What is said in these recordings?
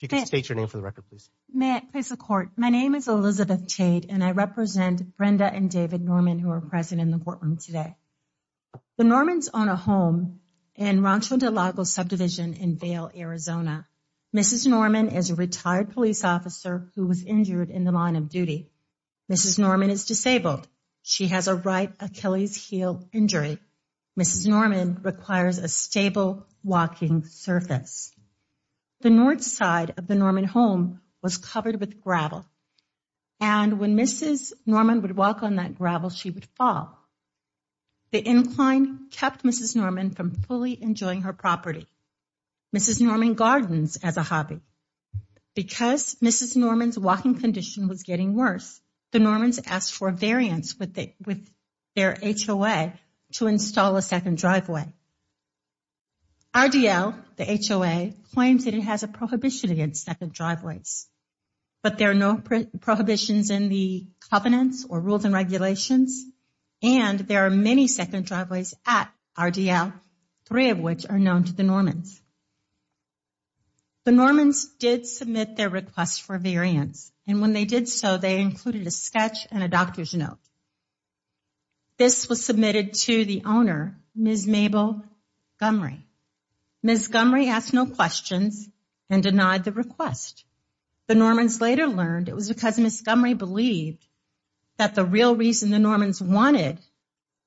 in the courtroom today. The Normans own a home in Rancho Del Lago Subdivision in Vail, Arizona. Mrs. Norman is a retired police officer who was injured in the line of duty. Mrs. Norman requires a stable walking surface. The north side of the Norman home was covered with gravel, and when Mrs. Norman would walk on that gravel, she would fall. The incline kept Mrs. Norman from fully enjoying her property. Mrs. Norman gardens as a hobby. Because Mrs. Norman's walking condition was getting worse, the Normans asked for a variance with their HOA to install a second driveway. RDL, the HOA, claims that it has a prohibition against second driveways, but there are no prohibitions in the covenants or rules and regulations, and there are many second driveways at RDL, three of which are known to the Normans. The Normans did submit their request for variance, and when they did so, they included a sketch and a doctor's note. This was submitted to the owner, Ms. Mabel Gumrey. Ms. Gumrey asked no questions and denied the request. The Normans later learned it was because Ms. Gumrey believed that the real reason the Normans wanted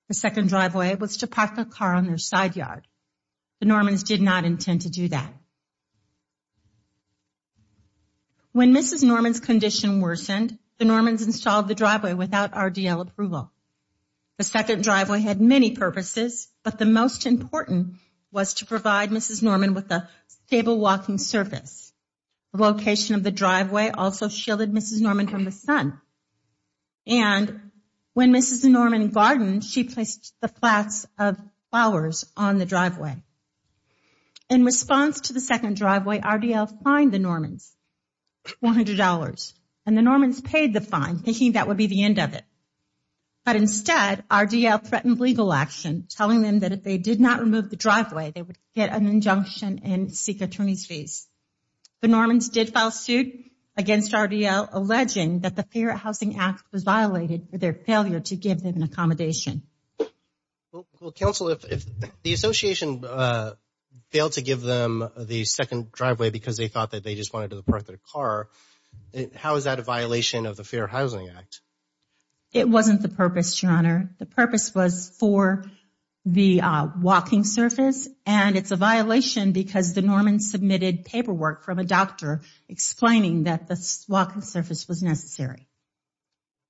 a second driveway was to park the car on their side yard. The Normans did not intend to do that. When Mrs. Norman's condition worsened, the Normans installed the driveway without RDL approval. The second driveway had many purposes, but the most important was to provide Mrs. Norman with a stable walking surface. The location of the driveway also shielded Mrs. Norman from the sun, and when Mrs. Norman gardened, she placed the flats of flowers on the driveway. In response to the second that would be the end of it. But instead, RDL threatened legal action, telling them that if they did not remove the driveway, they would get an injunction and seek attorney's fees. The Normans did file suit against RDL, alleging that the Fair Housing Act was violated for their failure to give them an accommodation. Well, counsel, if the association failed to give them the second driveway because they thought that they just wanted to park their car, how is that a violation of the Fair Housing Act? It wasn't the purpose, Your Honor. The purpose was for the walking surface, and it's a violation because the Normans submitted paperwork from a doctor explaining that the walking surface was necessary.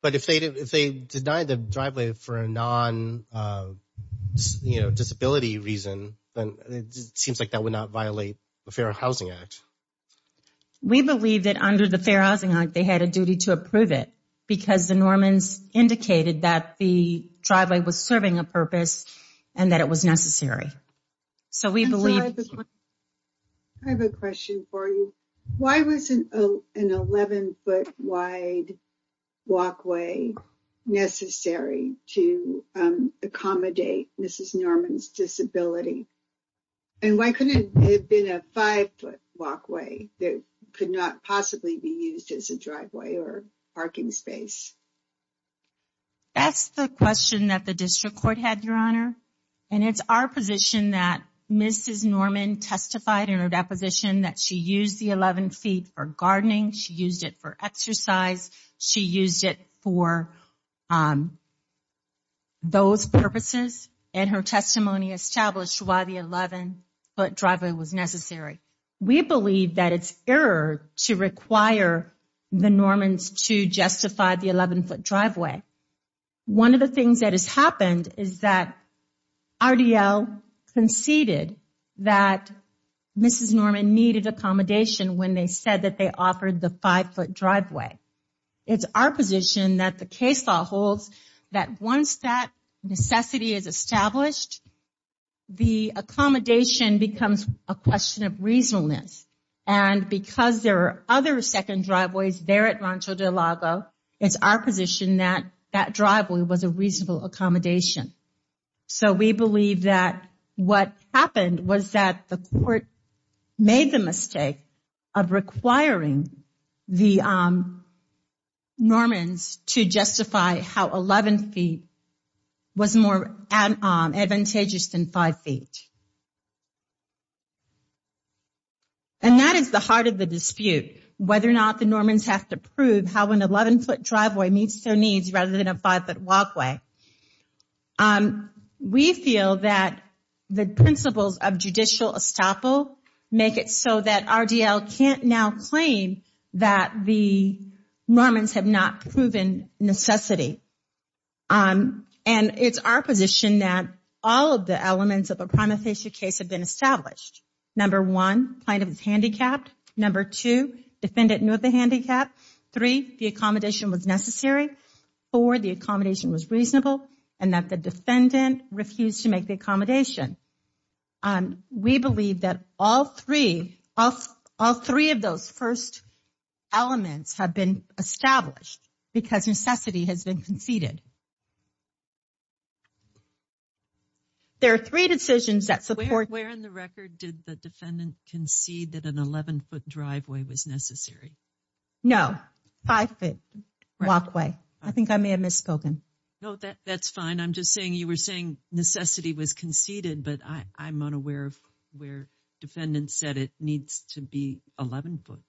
But if they denied the driveway for a non-disability reason, then it seems like that would not We believe that under the Fair Housing Act, they had a duty to approve it because the Normans indicated that the driveway was serving a purpose and that it was necessary. Counsel, I have a question for you. Why was an 11-foot wide walkway necessary to accommodate Mrs. Norman's disability? And why couldn't it have been a 5-foot walkway that could not possibly be used as a driveway or parking space? That's the question that the district court had, Your Honor. And it's our position that Mrs. Norman testified in her deposition that she used the 11 feet for gardening, she used it for exercise, she used it for those purposes. And her testimony established why the 11-foot driveway was necessary. We believe that it's error to require the Normans to justify the 11-foot driveway. One of the things that has happened is that RDL conceded that Mrs. Norman needed accommodation when they said that they offered the 5-foot driveway. It's our position that the case law holds that once that necessity is established, the accommodation becomes a question of reasonableness. And because there are other second driveways there at Rancho de Lago, it's our position that that driveway was a reasonable accommodation. So we believe that what happened was that the court made the mistake of requiring the Normans to justify how 11 feet was more advantageous than 5 feet. And that is the heart of the dispute, whether or not the Normans have to prove how an 11-foot make it so that RDL can't now claim that the Normans have not proven necessity. And it's our position that all of the elements of a prima facie case have been established. Number one, plaintiff is handicapped. Number two, defendant knew of the handicap. Three, the accommodation was necessary. Four, the accommodation was reasonable. And that the defendant refused to make the plea that all three of those first elements have been established because necessity has been conceded. There are three decisions that support... Where in the record did the defendant concede that an 11-foot driveway was necessary? No, 5-foot walkway. I think I may have misspoken. No, that's fine. I'm just saying you were saying necessity was conceded, but I'm unaware of where defendant said it needs to be 11-foot.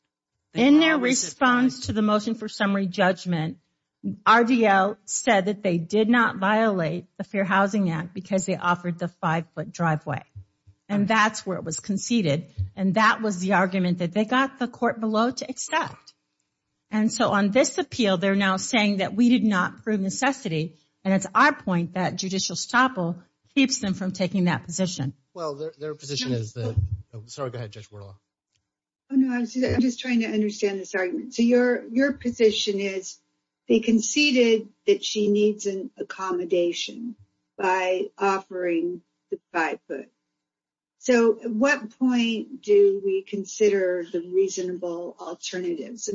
In their response to the motion for summary judgment, RDL said that they did not violate the Fair Housing Act because they offered the 5-foot driveway. And that's where it was conceded. And that was the argument that they got the court below to accept. And so on this appeal, they're now saying that we did not prove necessity. And it's our point that judicial stopple keeps them from taking that position. Well, their position is that... Sorry, go ahead, Judge Wuerlach. I'm just trying to understand this argument. So your position is they conceded that she needs an accommodation by offering the 5-foot. So at what point do we consider the reasonable alternatives?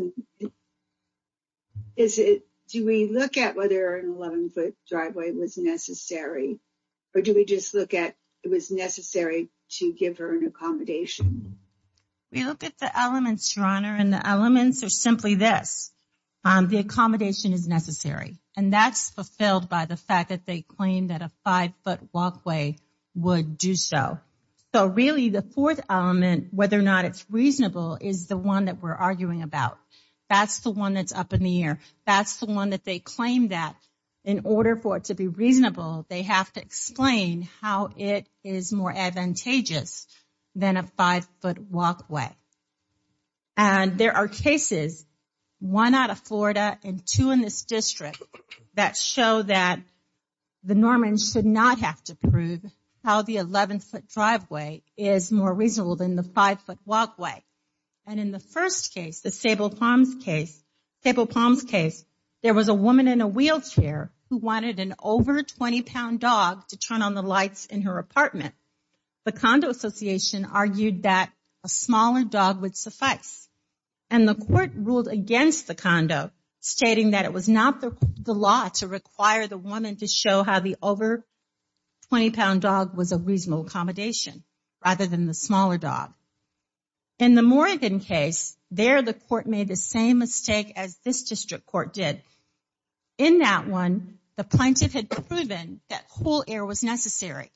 Do we look at whether an 11-foot driveway was necessary? Or do we just look at it was necessary to give her an accommodation? We look at the elements, Your Honor, and the elements are simply this. The accommodation is necessary. And that's fulfilled by the fact that they claim that a 5-foot walkway would do so. So really, the fourth element, whether or not it's reasonable, is the one that we're arguing about. That's the one that's up in the air. That's the one that they claim that in order for it to be reasonable, they have to explain how it is more advantageous than a 5-foot walkway. And there are cases, one out of Florida and two in this district, that show that the Normans should not have to prove how the 11-foot driveway is more reasonable than the 5-foot walkway. And in the first case, the Sable Palms case, there was a woman in a wheelchair who wanted an over 20-pound dog to turn on the lights in her apartment. The condo association argued that a smaller dog would suffice. And the court ruled against the condo, stating that it was not the law to require the woman to show how the over 20-pound dog was a reasonable accommodation, rather than the smaller dog. In the Morrigan case, there the court made the same mistake as this district court did. In that one, the plaintiff had proven that cool air was necessary.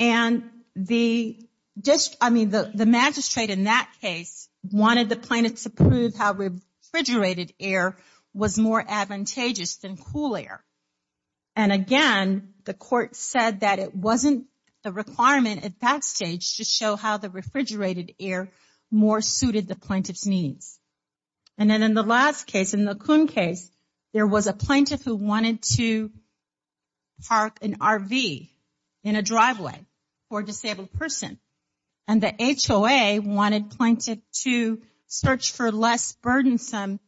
And the magistrate in that case wanted the plaintiff to prove how refrigerated air was more advantageous than cool air. And again, the court said that it wasn't a requirement at that stage to show how the refrigerated air more suited the plaintiff's needs. And then in the last case, in the Coon case, there was a plaintiff who wanted to park an RV in a driveway for a disabled person. And the HOA wanted plaintiff to search for less burdensome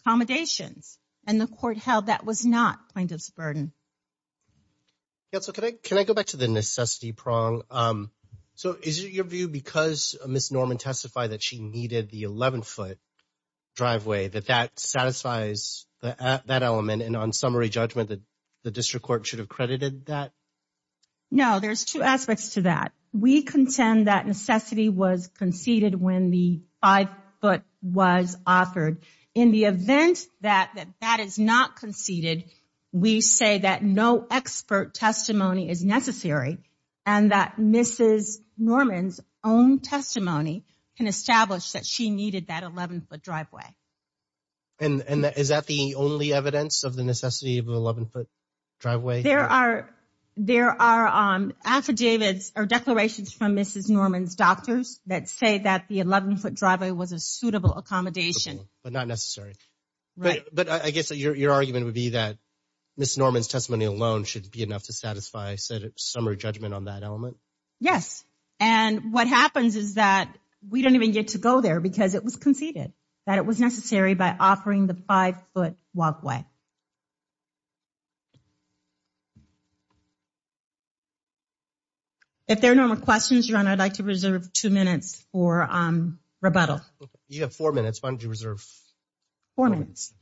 accommodations. And the court held that was not plaintiff's burden. Can I go back to the necessity prong? So is it your view, because Ms. Norman testified that she needed the 11-foot driveway, that that satisfies that element, and on summary judgment, the district court should have credited that? No, there's two aspects to that. We contend that necessity was conceded when the 5-foot was offered. In the event that that is not conceded, we say that no expert testimony is necessary and that Mrs. Norman's own testimony can establish that she needed that 11-foot driveway. And is that the only evidence of the necessity of the 11-foot driveway? There are affidavits or declarations from Mrs. Norman's doctors that say that the 11-foot driveway was a suitable accommodation. But not necessary. Right. But I guess your argument would be that Ms. Norman's testimony alone should be enough to satisfy summary judgment on that element? Yes. And what happens is that we don't even get to go there because it was conceded that it was necessary by offering the 5-foot walkway. Okay. If there are no more questions, Your Honor, I'd like to reserve two minutes for rebuttal. You have four minutes. Why don't you reserve? Four minutes.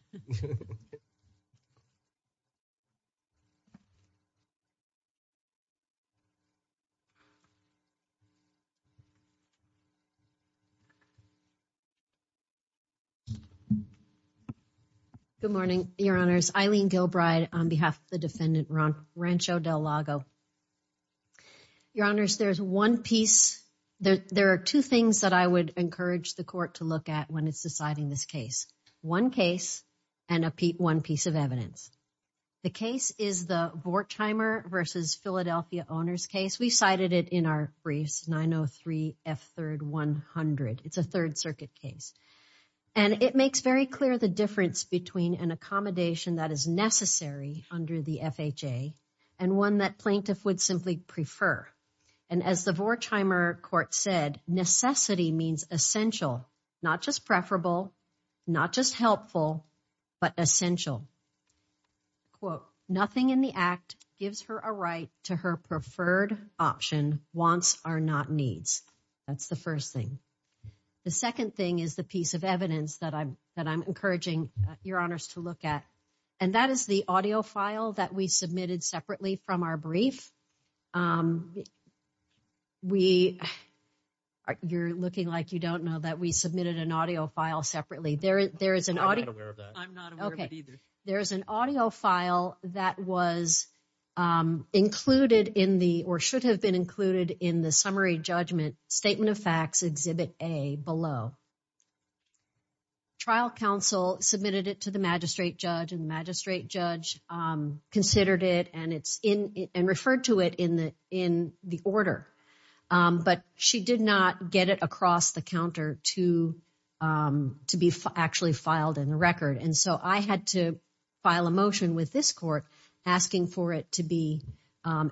Good morning, Your Honors. Eileen Gilbride on behalf of the defendant Rancho Del Lago. Your Honors, there's one piece. There are two things that I would encourage the court to look at when it's deciding this case. One case and one piece of evidence. The case is the Vortheimer v. Philadelphia Owner's Case. We cited it in our briefs, 903 F. 3rd 100. It's a Third Circuit case. And it makes very clear the difference between an accommodation that is necessary under the FHA and one that plaintiff would simply prefer. And as the Vortheimer court said, necessity means essential, not just preferable, not just helpful, but essential. Quote, nothing in the act gives her a right to her preferred option, wants are not needs. That's the first thing. The second thing is the piece of evidence that I'm encouraging Your Honors to look at. And that is the audio file that we submitted separately from our brief. You're looking like you don't know that we submitted an audio file separately. I'm not aware of that. I'm not aware of it either. There is an audio file that was included in the, or should have been included in the summary judgment, Statement of Facts, Exhibit A below. Trial counsel submitted it to the magistrate judge. And the magistrate judge considered it and referred to it in the order. But she did not get it across the counter to be actually filed in the record. And so I had to file a motion with this court asking for it to be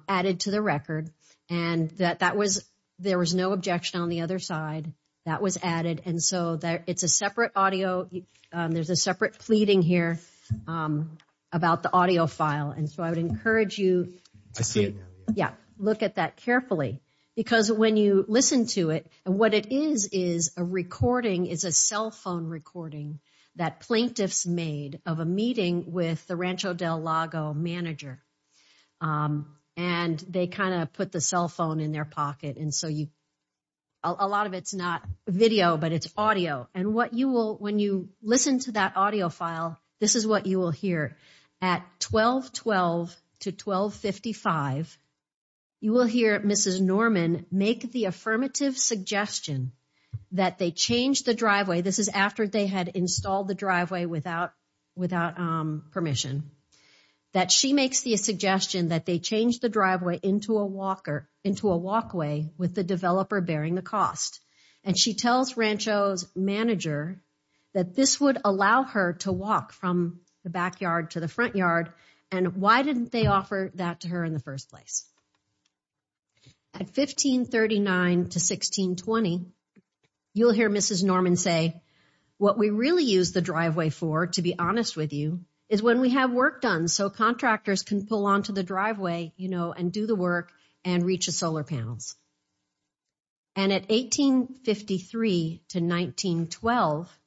added to the record. And there was no objection on the other side. That was added. And so it's a separate audio. There's a separate pleading here about the audio file. And so I would encourage you to look at that carefully. Because when you listen to it, what it is is a recording, is a cell phone recording that plaintiffs made of a meeting with the Rancho Del Lago manager. And they kind of put the cell phone in their pocket. A lot of it's not video, but it's audio. And when you listen to that audio file, this is what you will hear. At 1212 to 1255, you will hear Mrs. Norman make the affirmative suggestion that they change the driveway. This is after they had installed the driveway without permission. That she makes the suggestion that they change the driveway into a walkway with the developer bearing the cost. And she tells Rancho's manager that this would allow her to walk from the backyard to the front yard. And why didn't they offer that to her in the first place? At 1539 to 1620, you will hear Mrs. Norman say, what we really use the driveway for, to be honest with you, is when we have work done. So contractors can pull onto the driveway, you know, and do the work and reach the solar panels. And at 1853 to 1912,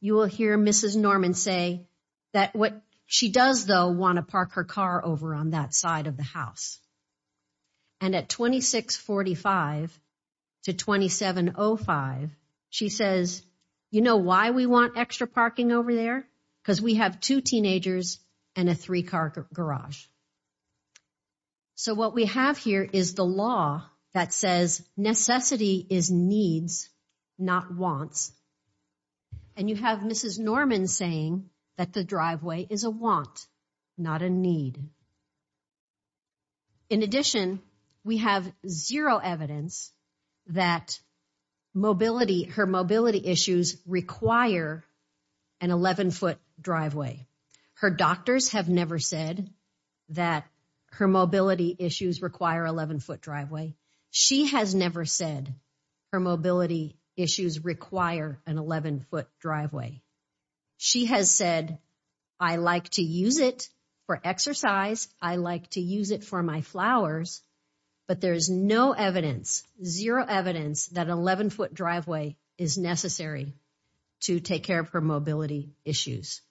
you will hear Mrs. Norman say that what she does, though, want to park her car over on that side of the house. And at 2645 to 2705, she says, you know why we want extra parking over there? Because we have two teenagers and a three-car garage. So what we have here is the law that says necessity is needs, not wants. And you have Mrs. Norman saying that the driveway is a want, not a need. In addition, we have zero evidence that mobility, her mobility issues require an 11-foot driveway. Her doctors have never said that her mobility issues require 11-foot driveway. She has never said her mobility issues require an 11-foot driveway. She has said, I like to use it for exercise. I like to use it for my flowers. But there is no evidence, zero evidence that an 11-foot driveway is necessary to take care of her mobility issues.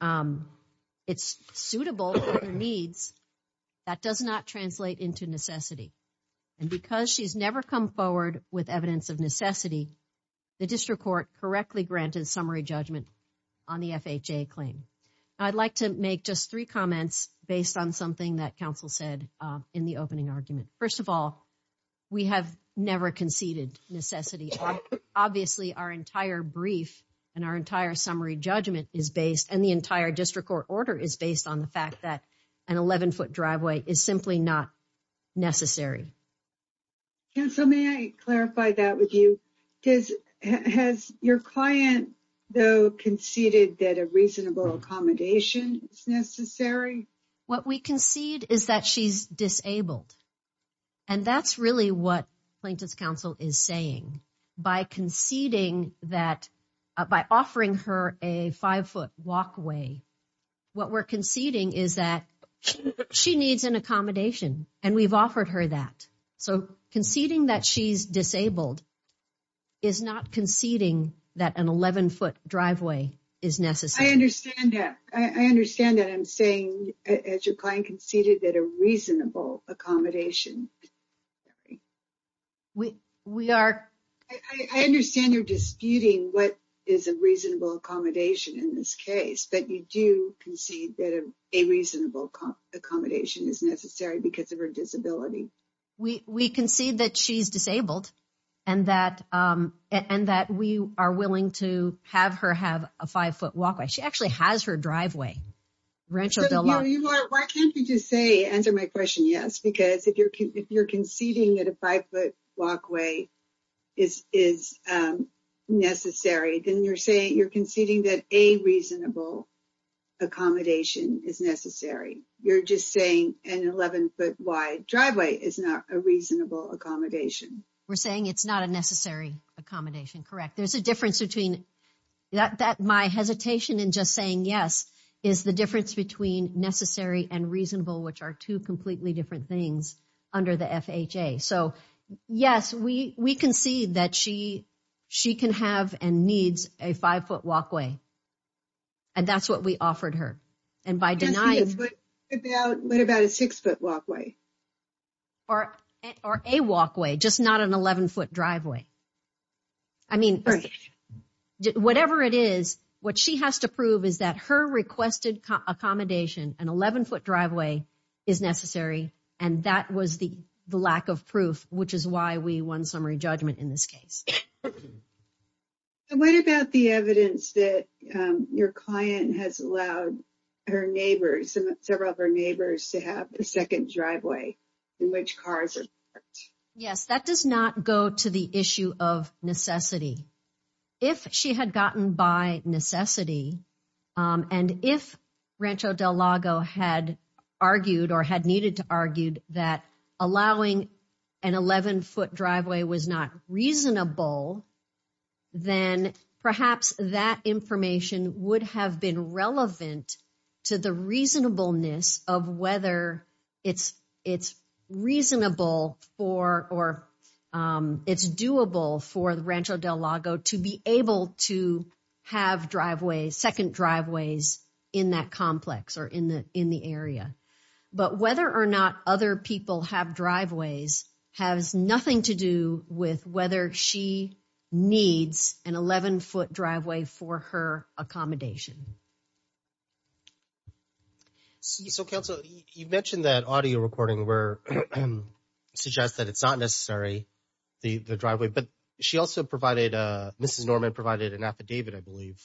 It's suitable for her needs. That does not translate into necessity. And because she's never come forward with evidence of necessity, the district court correctly granted summary judgment on the FHA claim. I'd like to make just three comments based on something that council said in the opening argument. First of all, we have never conceded necessity. Obviously, our entire brief and our entire summary judgment is based and the entire district court order is based on the fact that an 11-foot driveway is simply not necessary. Council, may I clarify that with you? Has your client, though, conceded that a reasonable accommodation is necessary? What we concede is that she's disabled. And that's really what plaintiff's counsel is saying. By conceding that, by offering her a five-foot walkway, what we're conceding is that she needs an accommodation. And we've offered her that. So conceding that she's disabled is not conceding that an 11-foot driveway is necessary. I understand that. I understand that. I'm saying, as your client conceded, that a reasonable accommodation is necessary. We concede that she's disabled and that we are willing to have her have a five-foot walkway. She actually has her driveway. Why can't you just say, answer my question, yes, because if you're conceding that a five-foot walkway is necessary, then you're saying you're conceding that a reasonable accommodation is necessary. You're just saying an 11-foot-wide driveway is not a reasonable accommodation. We're saying it's not a necessary accommodation, correct? There's a difference between that. My hesitation in just saying yes is the difference between necessary and reasonable, which are two completely different things under the FHA. So, yes, we concede that she can have and needs a five-foot walkway. And that's what we offered her. What about a six-foot walkway? Or a walkway, just not an 11-foot driveway. I mean, whatever it is, what she has to prove is that her requested accommodation, an 11-foot driveway, is necessary, and that was the lack of proof, which is why we won summary judgment in this case. What about the evidence that your client has allowed her neighbors, several of her neighbors, to have a second driveway in which cars are parked? Yes, that does not go to the issue of necessity. If she had gotten by necessity, and if Rancho Del Lago had argued or had needed to argue that allowing an 11-foot driveway was not reasonable, then perhaps that information would have been relevant to the reasonableness of whether it's reasonable for or it's doable for Rancho Del Lago to be able to have driveways, second driveways, in that complex or in the area. But whether or not other people have driveways has nothing to do with whether she needs an 11-foot driveway for her accommodation. So, Counsel, you mentioned that audio recording where it suggests that it's not necessary, the driveway, but she also provided, Mrs. Norman provided an affidavit, I believe,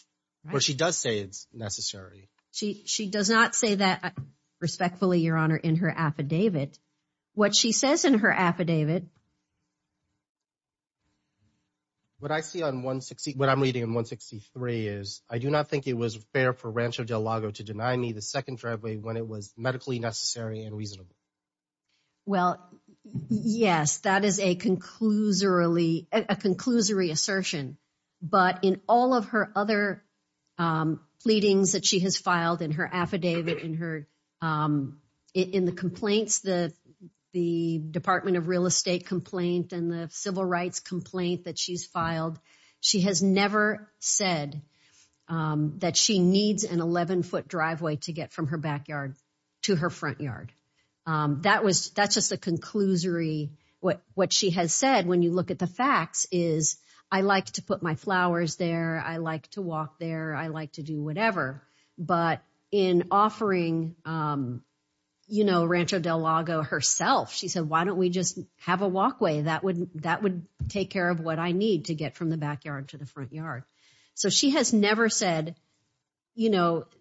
where she does say it's necessary. She does not say that respectfully, Your Honor, in her affidavit. What she says in her affidavit... What I see on 163, what I'm reading on 163 is, I do not think it was fair for Rancho Del Lago to deny me the second driveway when it was medically necessary and reasonable. Well, yes, that is a conclusory assertion. But in all of her other pleadings that she has filed in her affidavit, in the complaints, the Department of Real Estate complaint and the civil rights complaint that she's filed, she has never said that she needs an 11-foot driveway to get from her backyard to her front yard. That's just a conclusory... What she has said, when you look at the facts, is, I like to put my flowers there, I like to walk there, I like to do whatever. But in offering Rancho Del Lago herself, she said, why don't we just have a walkway? That would take care of what I need to get from the backyard to the front yard. So she has never said...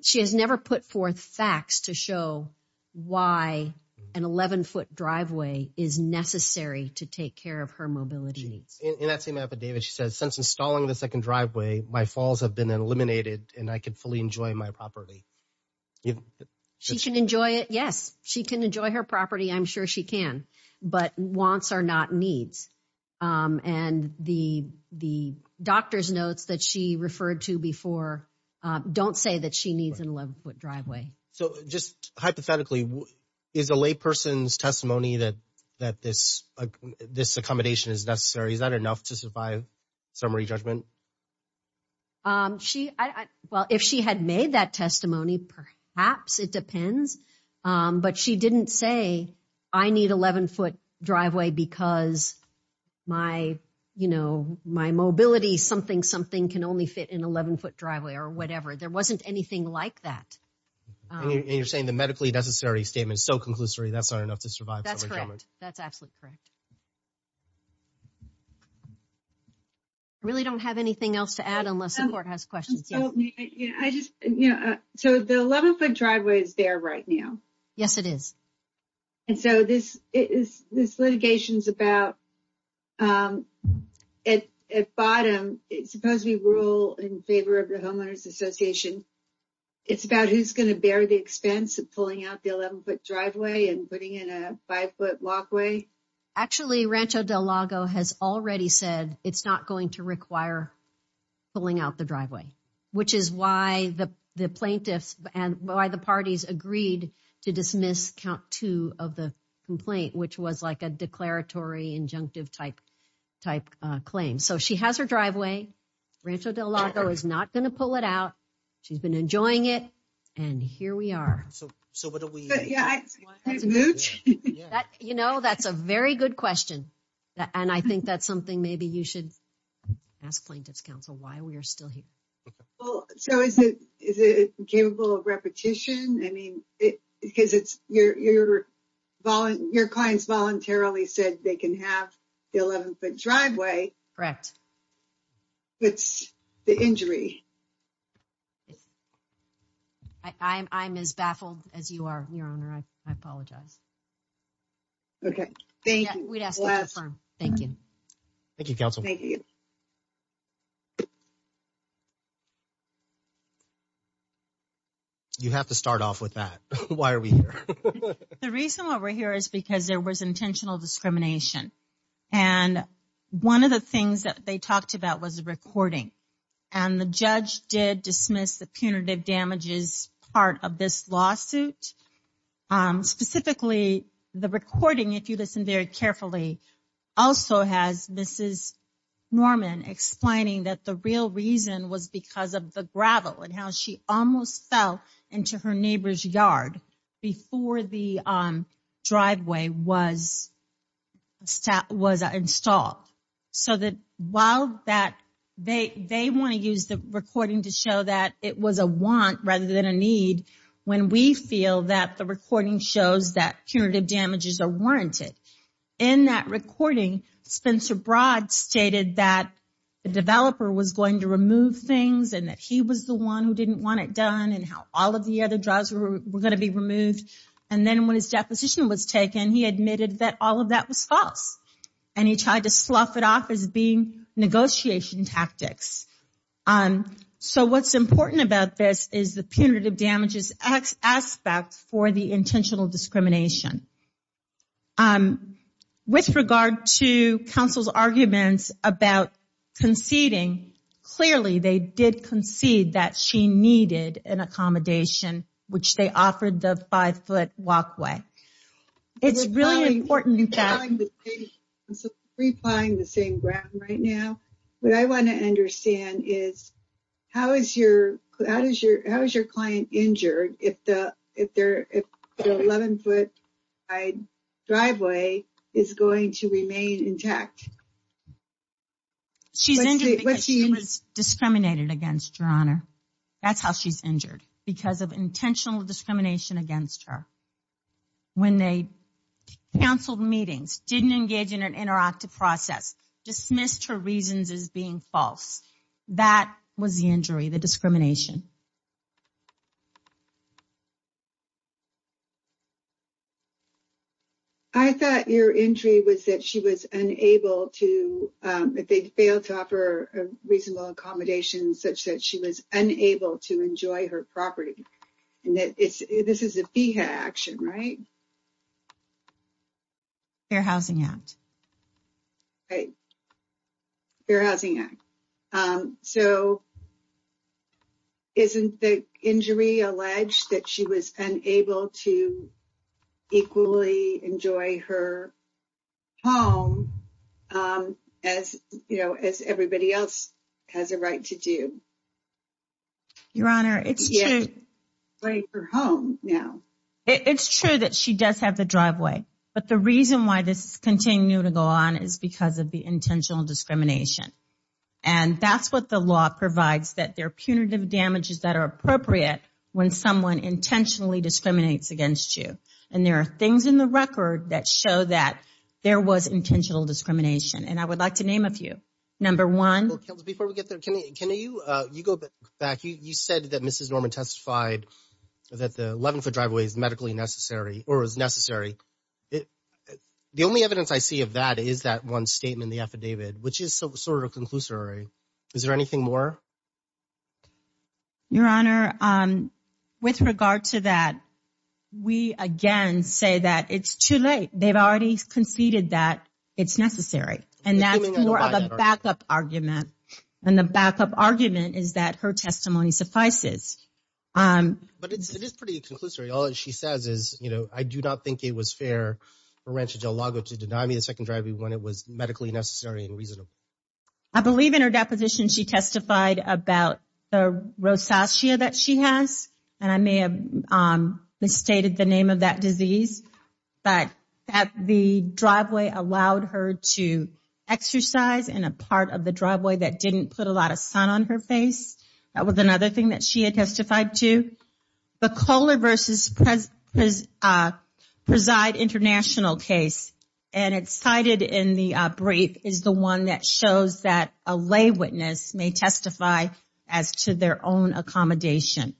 She has never put forth facts to show why an 11-foot driveway is necessary to take care of her mobility needs. In that same affidavit, she says, since installing the second driveway, my falls have been eliminated and I can fully enjoy my property. She can enjoy it, yes. She can enjoy her property, I'm sure she can. But wants are not needs. And the doctor's notes that she referred to before don't say that she needs an 11-foot driveway. So just hypothetically, is a layperson's testimony that this accommodation is necessary, is that enough to survive summary judgment? Well, if she had made that testimony, perhaps, it depends. But she didn't say, I need an 11-foot driveway because my mobility, something, something can only fit in an 11-foot driveway or whatever. There wasn't anything like that. And you're saying the medically necessary statement is so conclusory, that's not enough to survive summary judgment? That's correct. That's absolutely correct. I really don't have anything else to add unless the court has questions. So the 11-foot driveway is there right now. Yes, it is. And so this litigation is about, at bottom, it's supposed to be rule in favor of the homeowners association. It's about who's going to bear the expense of pulling out the 11-foot driveway and putting in a 5-foot walkway. Actually, Rancho Del Lago has already said it's not going to require pulling out the driveway, which is why the plaintiffs and why the parties agreed to dismiss count two of the complaint, which was like a declaratory injunctive type claim. So she has her driveway. Rancho Del Lago is not going to pull it out. She's been enjoying it. And here we are. You know, that's a very good question. And I think that's something maybe you should ask plaintiff's counsel why we are still here. So is it is it capable of repetition? I mean, because it's your clients voluntarily said they can have the 11-foot driveway. Correct. It's the injury. I'm as baffled as you are, Your Honor. I apologize. Okay, thank you. Thank you. Thank you, counsel. Thank you. You have to start off with that. Why are we here? The reason why we're here is because there was intentional discrimination. And one of the things that they talked about was a recording. And the judge did dismiss the punitive damages part of this lawsuit. Specifically, the recording, if you listen very carefully, also has Mrs. Norman explaining that the real reason was because of the gravel and how she almost fell into her neighbor's yard before the driveway was installed. So they want to use the recording to show that it was a want rather than a need when we feel that the recording shows that punitive damages are warranted. In that recording, Spencer Broad stated that the developer was going to remove things and that he was the one who didn't want it done and how all of the other drives were going to be removed. And then when his deposition was taken, he admitted that all of that was false. And he tried to slough it off as being negotiation tactics. So what's important about this is the punitive damages aspect for the intentional discrimination. With regard to counsel's arguments about conceding, clearly they did concede that she needed an accommodation, which they offered the five-foot walkway. It's really important that... I'm replying the same ground right now. What I want to understand is, how is your client injured if the 11-foot driveway is going to remain intact? She's injured because she was discriminated against, Your Honor. That's how she's injured, because of intentional discrimination against her. When they counseled meetings, didn't engage in an interactive process, dismissed her reasons as being false. That was the injury, the discrimination. I thought your injury was that she was unable to... That they failed to offer a reasonable accommodation such that she was unable to enjoy her property. This is a FEHA action, right? Fair Housing Act. Fair Housing Act. Isn't the injury alleged that she was unable to equally enjoy her home, as everybody else has a right to do? Your Honor, it's true that she does have the driveway. But the reason why this is continuing to go on is because of the intentional discrimination. And that's what the law provides, that there are punitive damages that are appropriate when someone intentionally discriminates against you. And there are things in the record that show that there was intentional discrimination. And I would like to name a few. Number one... Before we get there, can you go back? You said that Mrs. Norman testified that the 11-foot driveway is medically necessary, or is necessary. The only evidence I see of that is that one statement in the affidavit, which is sort of conclusory. Is there anything more? Your Honor, with regard to that, we again say that it's too late. They've already conceded that it's necessary. And that's more of a backup argument. And the backup argument is that her testimony suffices. But it is pretty conclusory. All she says is, you know, I do not think it was fair for Rancho Del Lago to deny me the second driveway when it was medically necessary and reasonable. I believe in her deposition she testified about the rosacea that she has. And I may have misstated the name of that disease. But the driveway allowed her to exercise in a part of the driveway that didn't put a lot of sun on her face. That was another thing that she had testified to. The Kohler v. Prezide International case, and it's cited in the brief, is the one that shows that a lay witness may testify as to their own accommodation.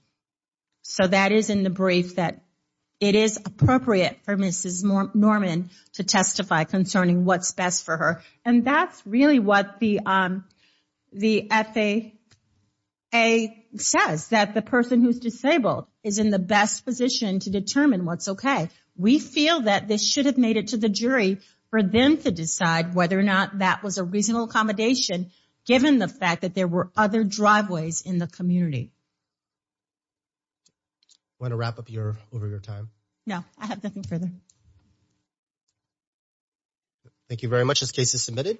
So that is in the brief that it is appropriate for Mrs. Norman to testify concerning what's best for her. And that's really what the FAA says, that the person who's disabled is in the best position to determine what's okay. We feel that this should have made it to the jury for them to decide whether or not that was a reasonable accommodation, given the fact that there were other driveways in the community. Want to wrap up over your time? No, I have nothing further. Thank you very much. This case is submitted.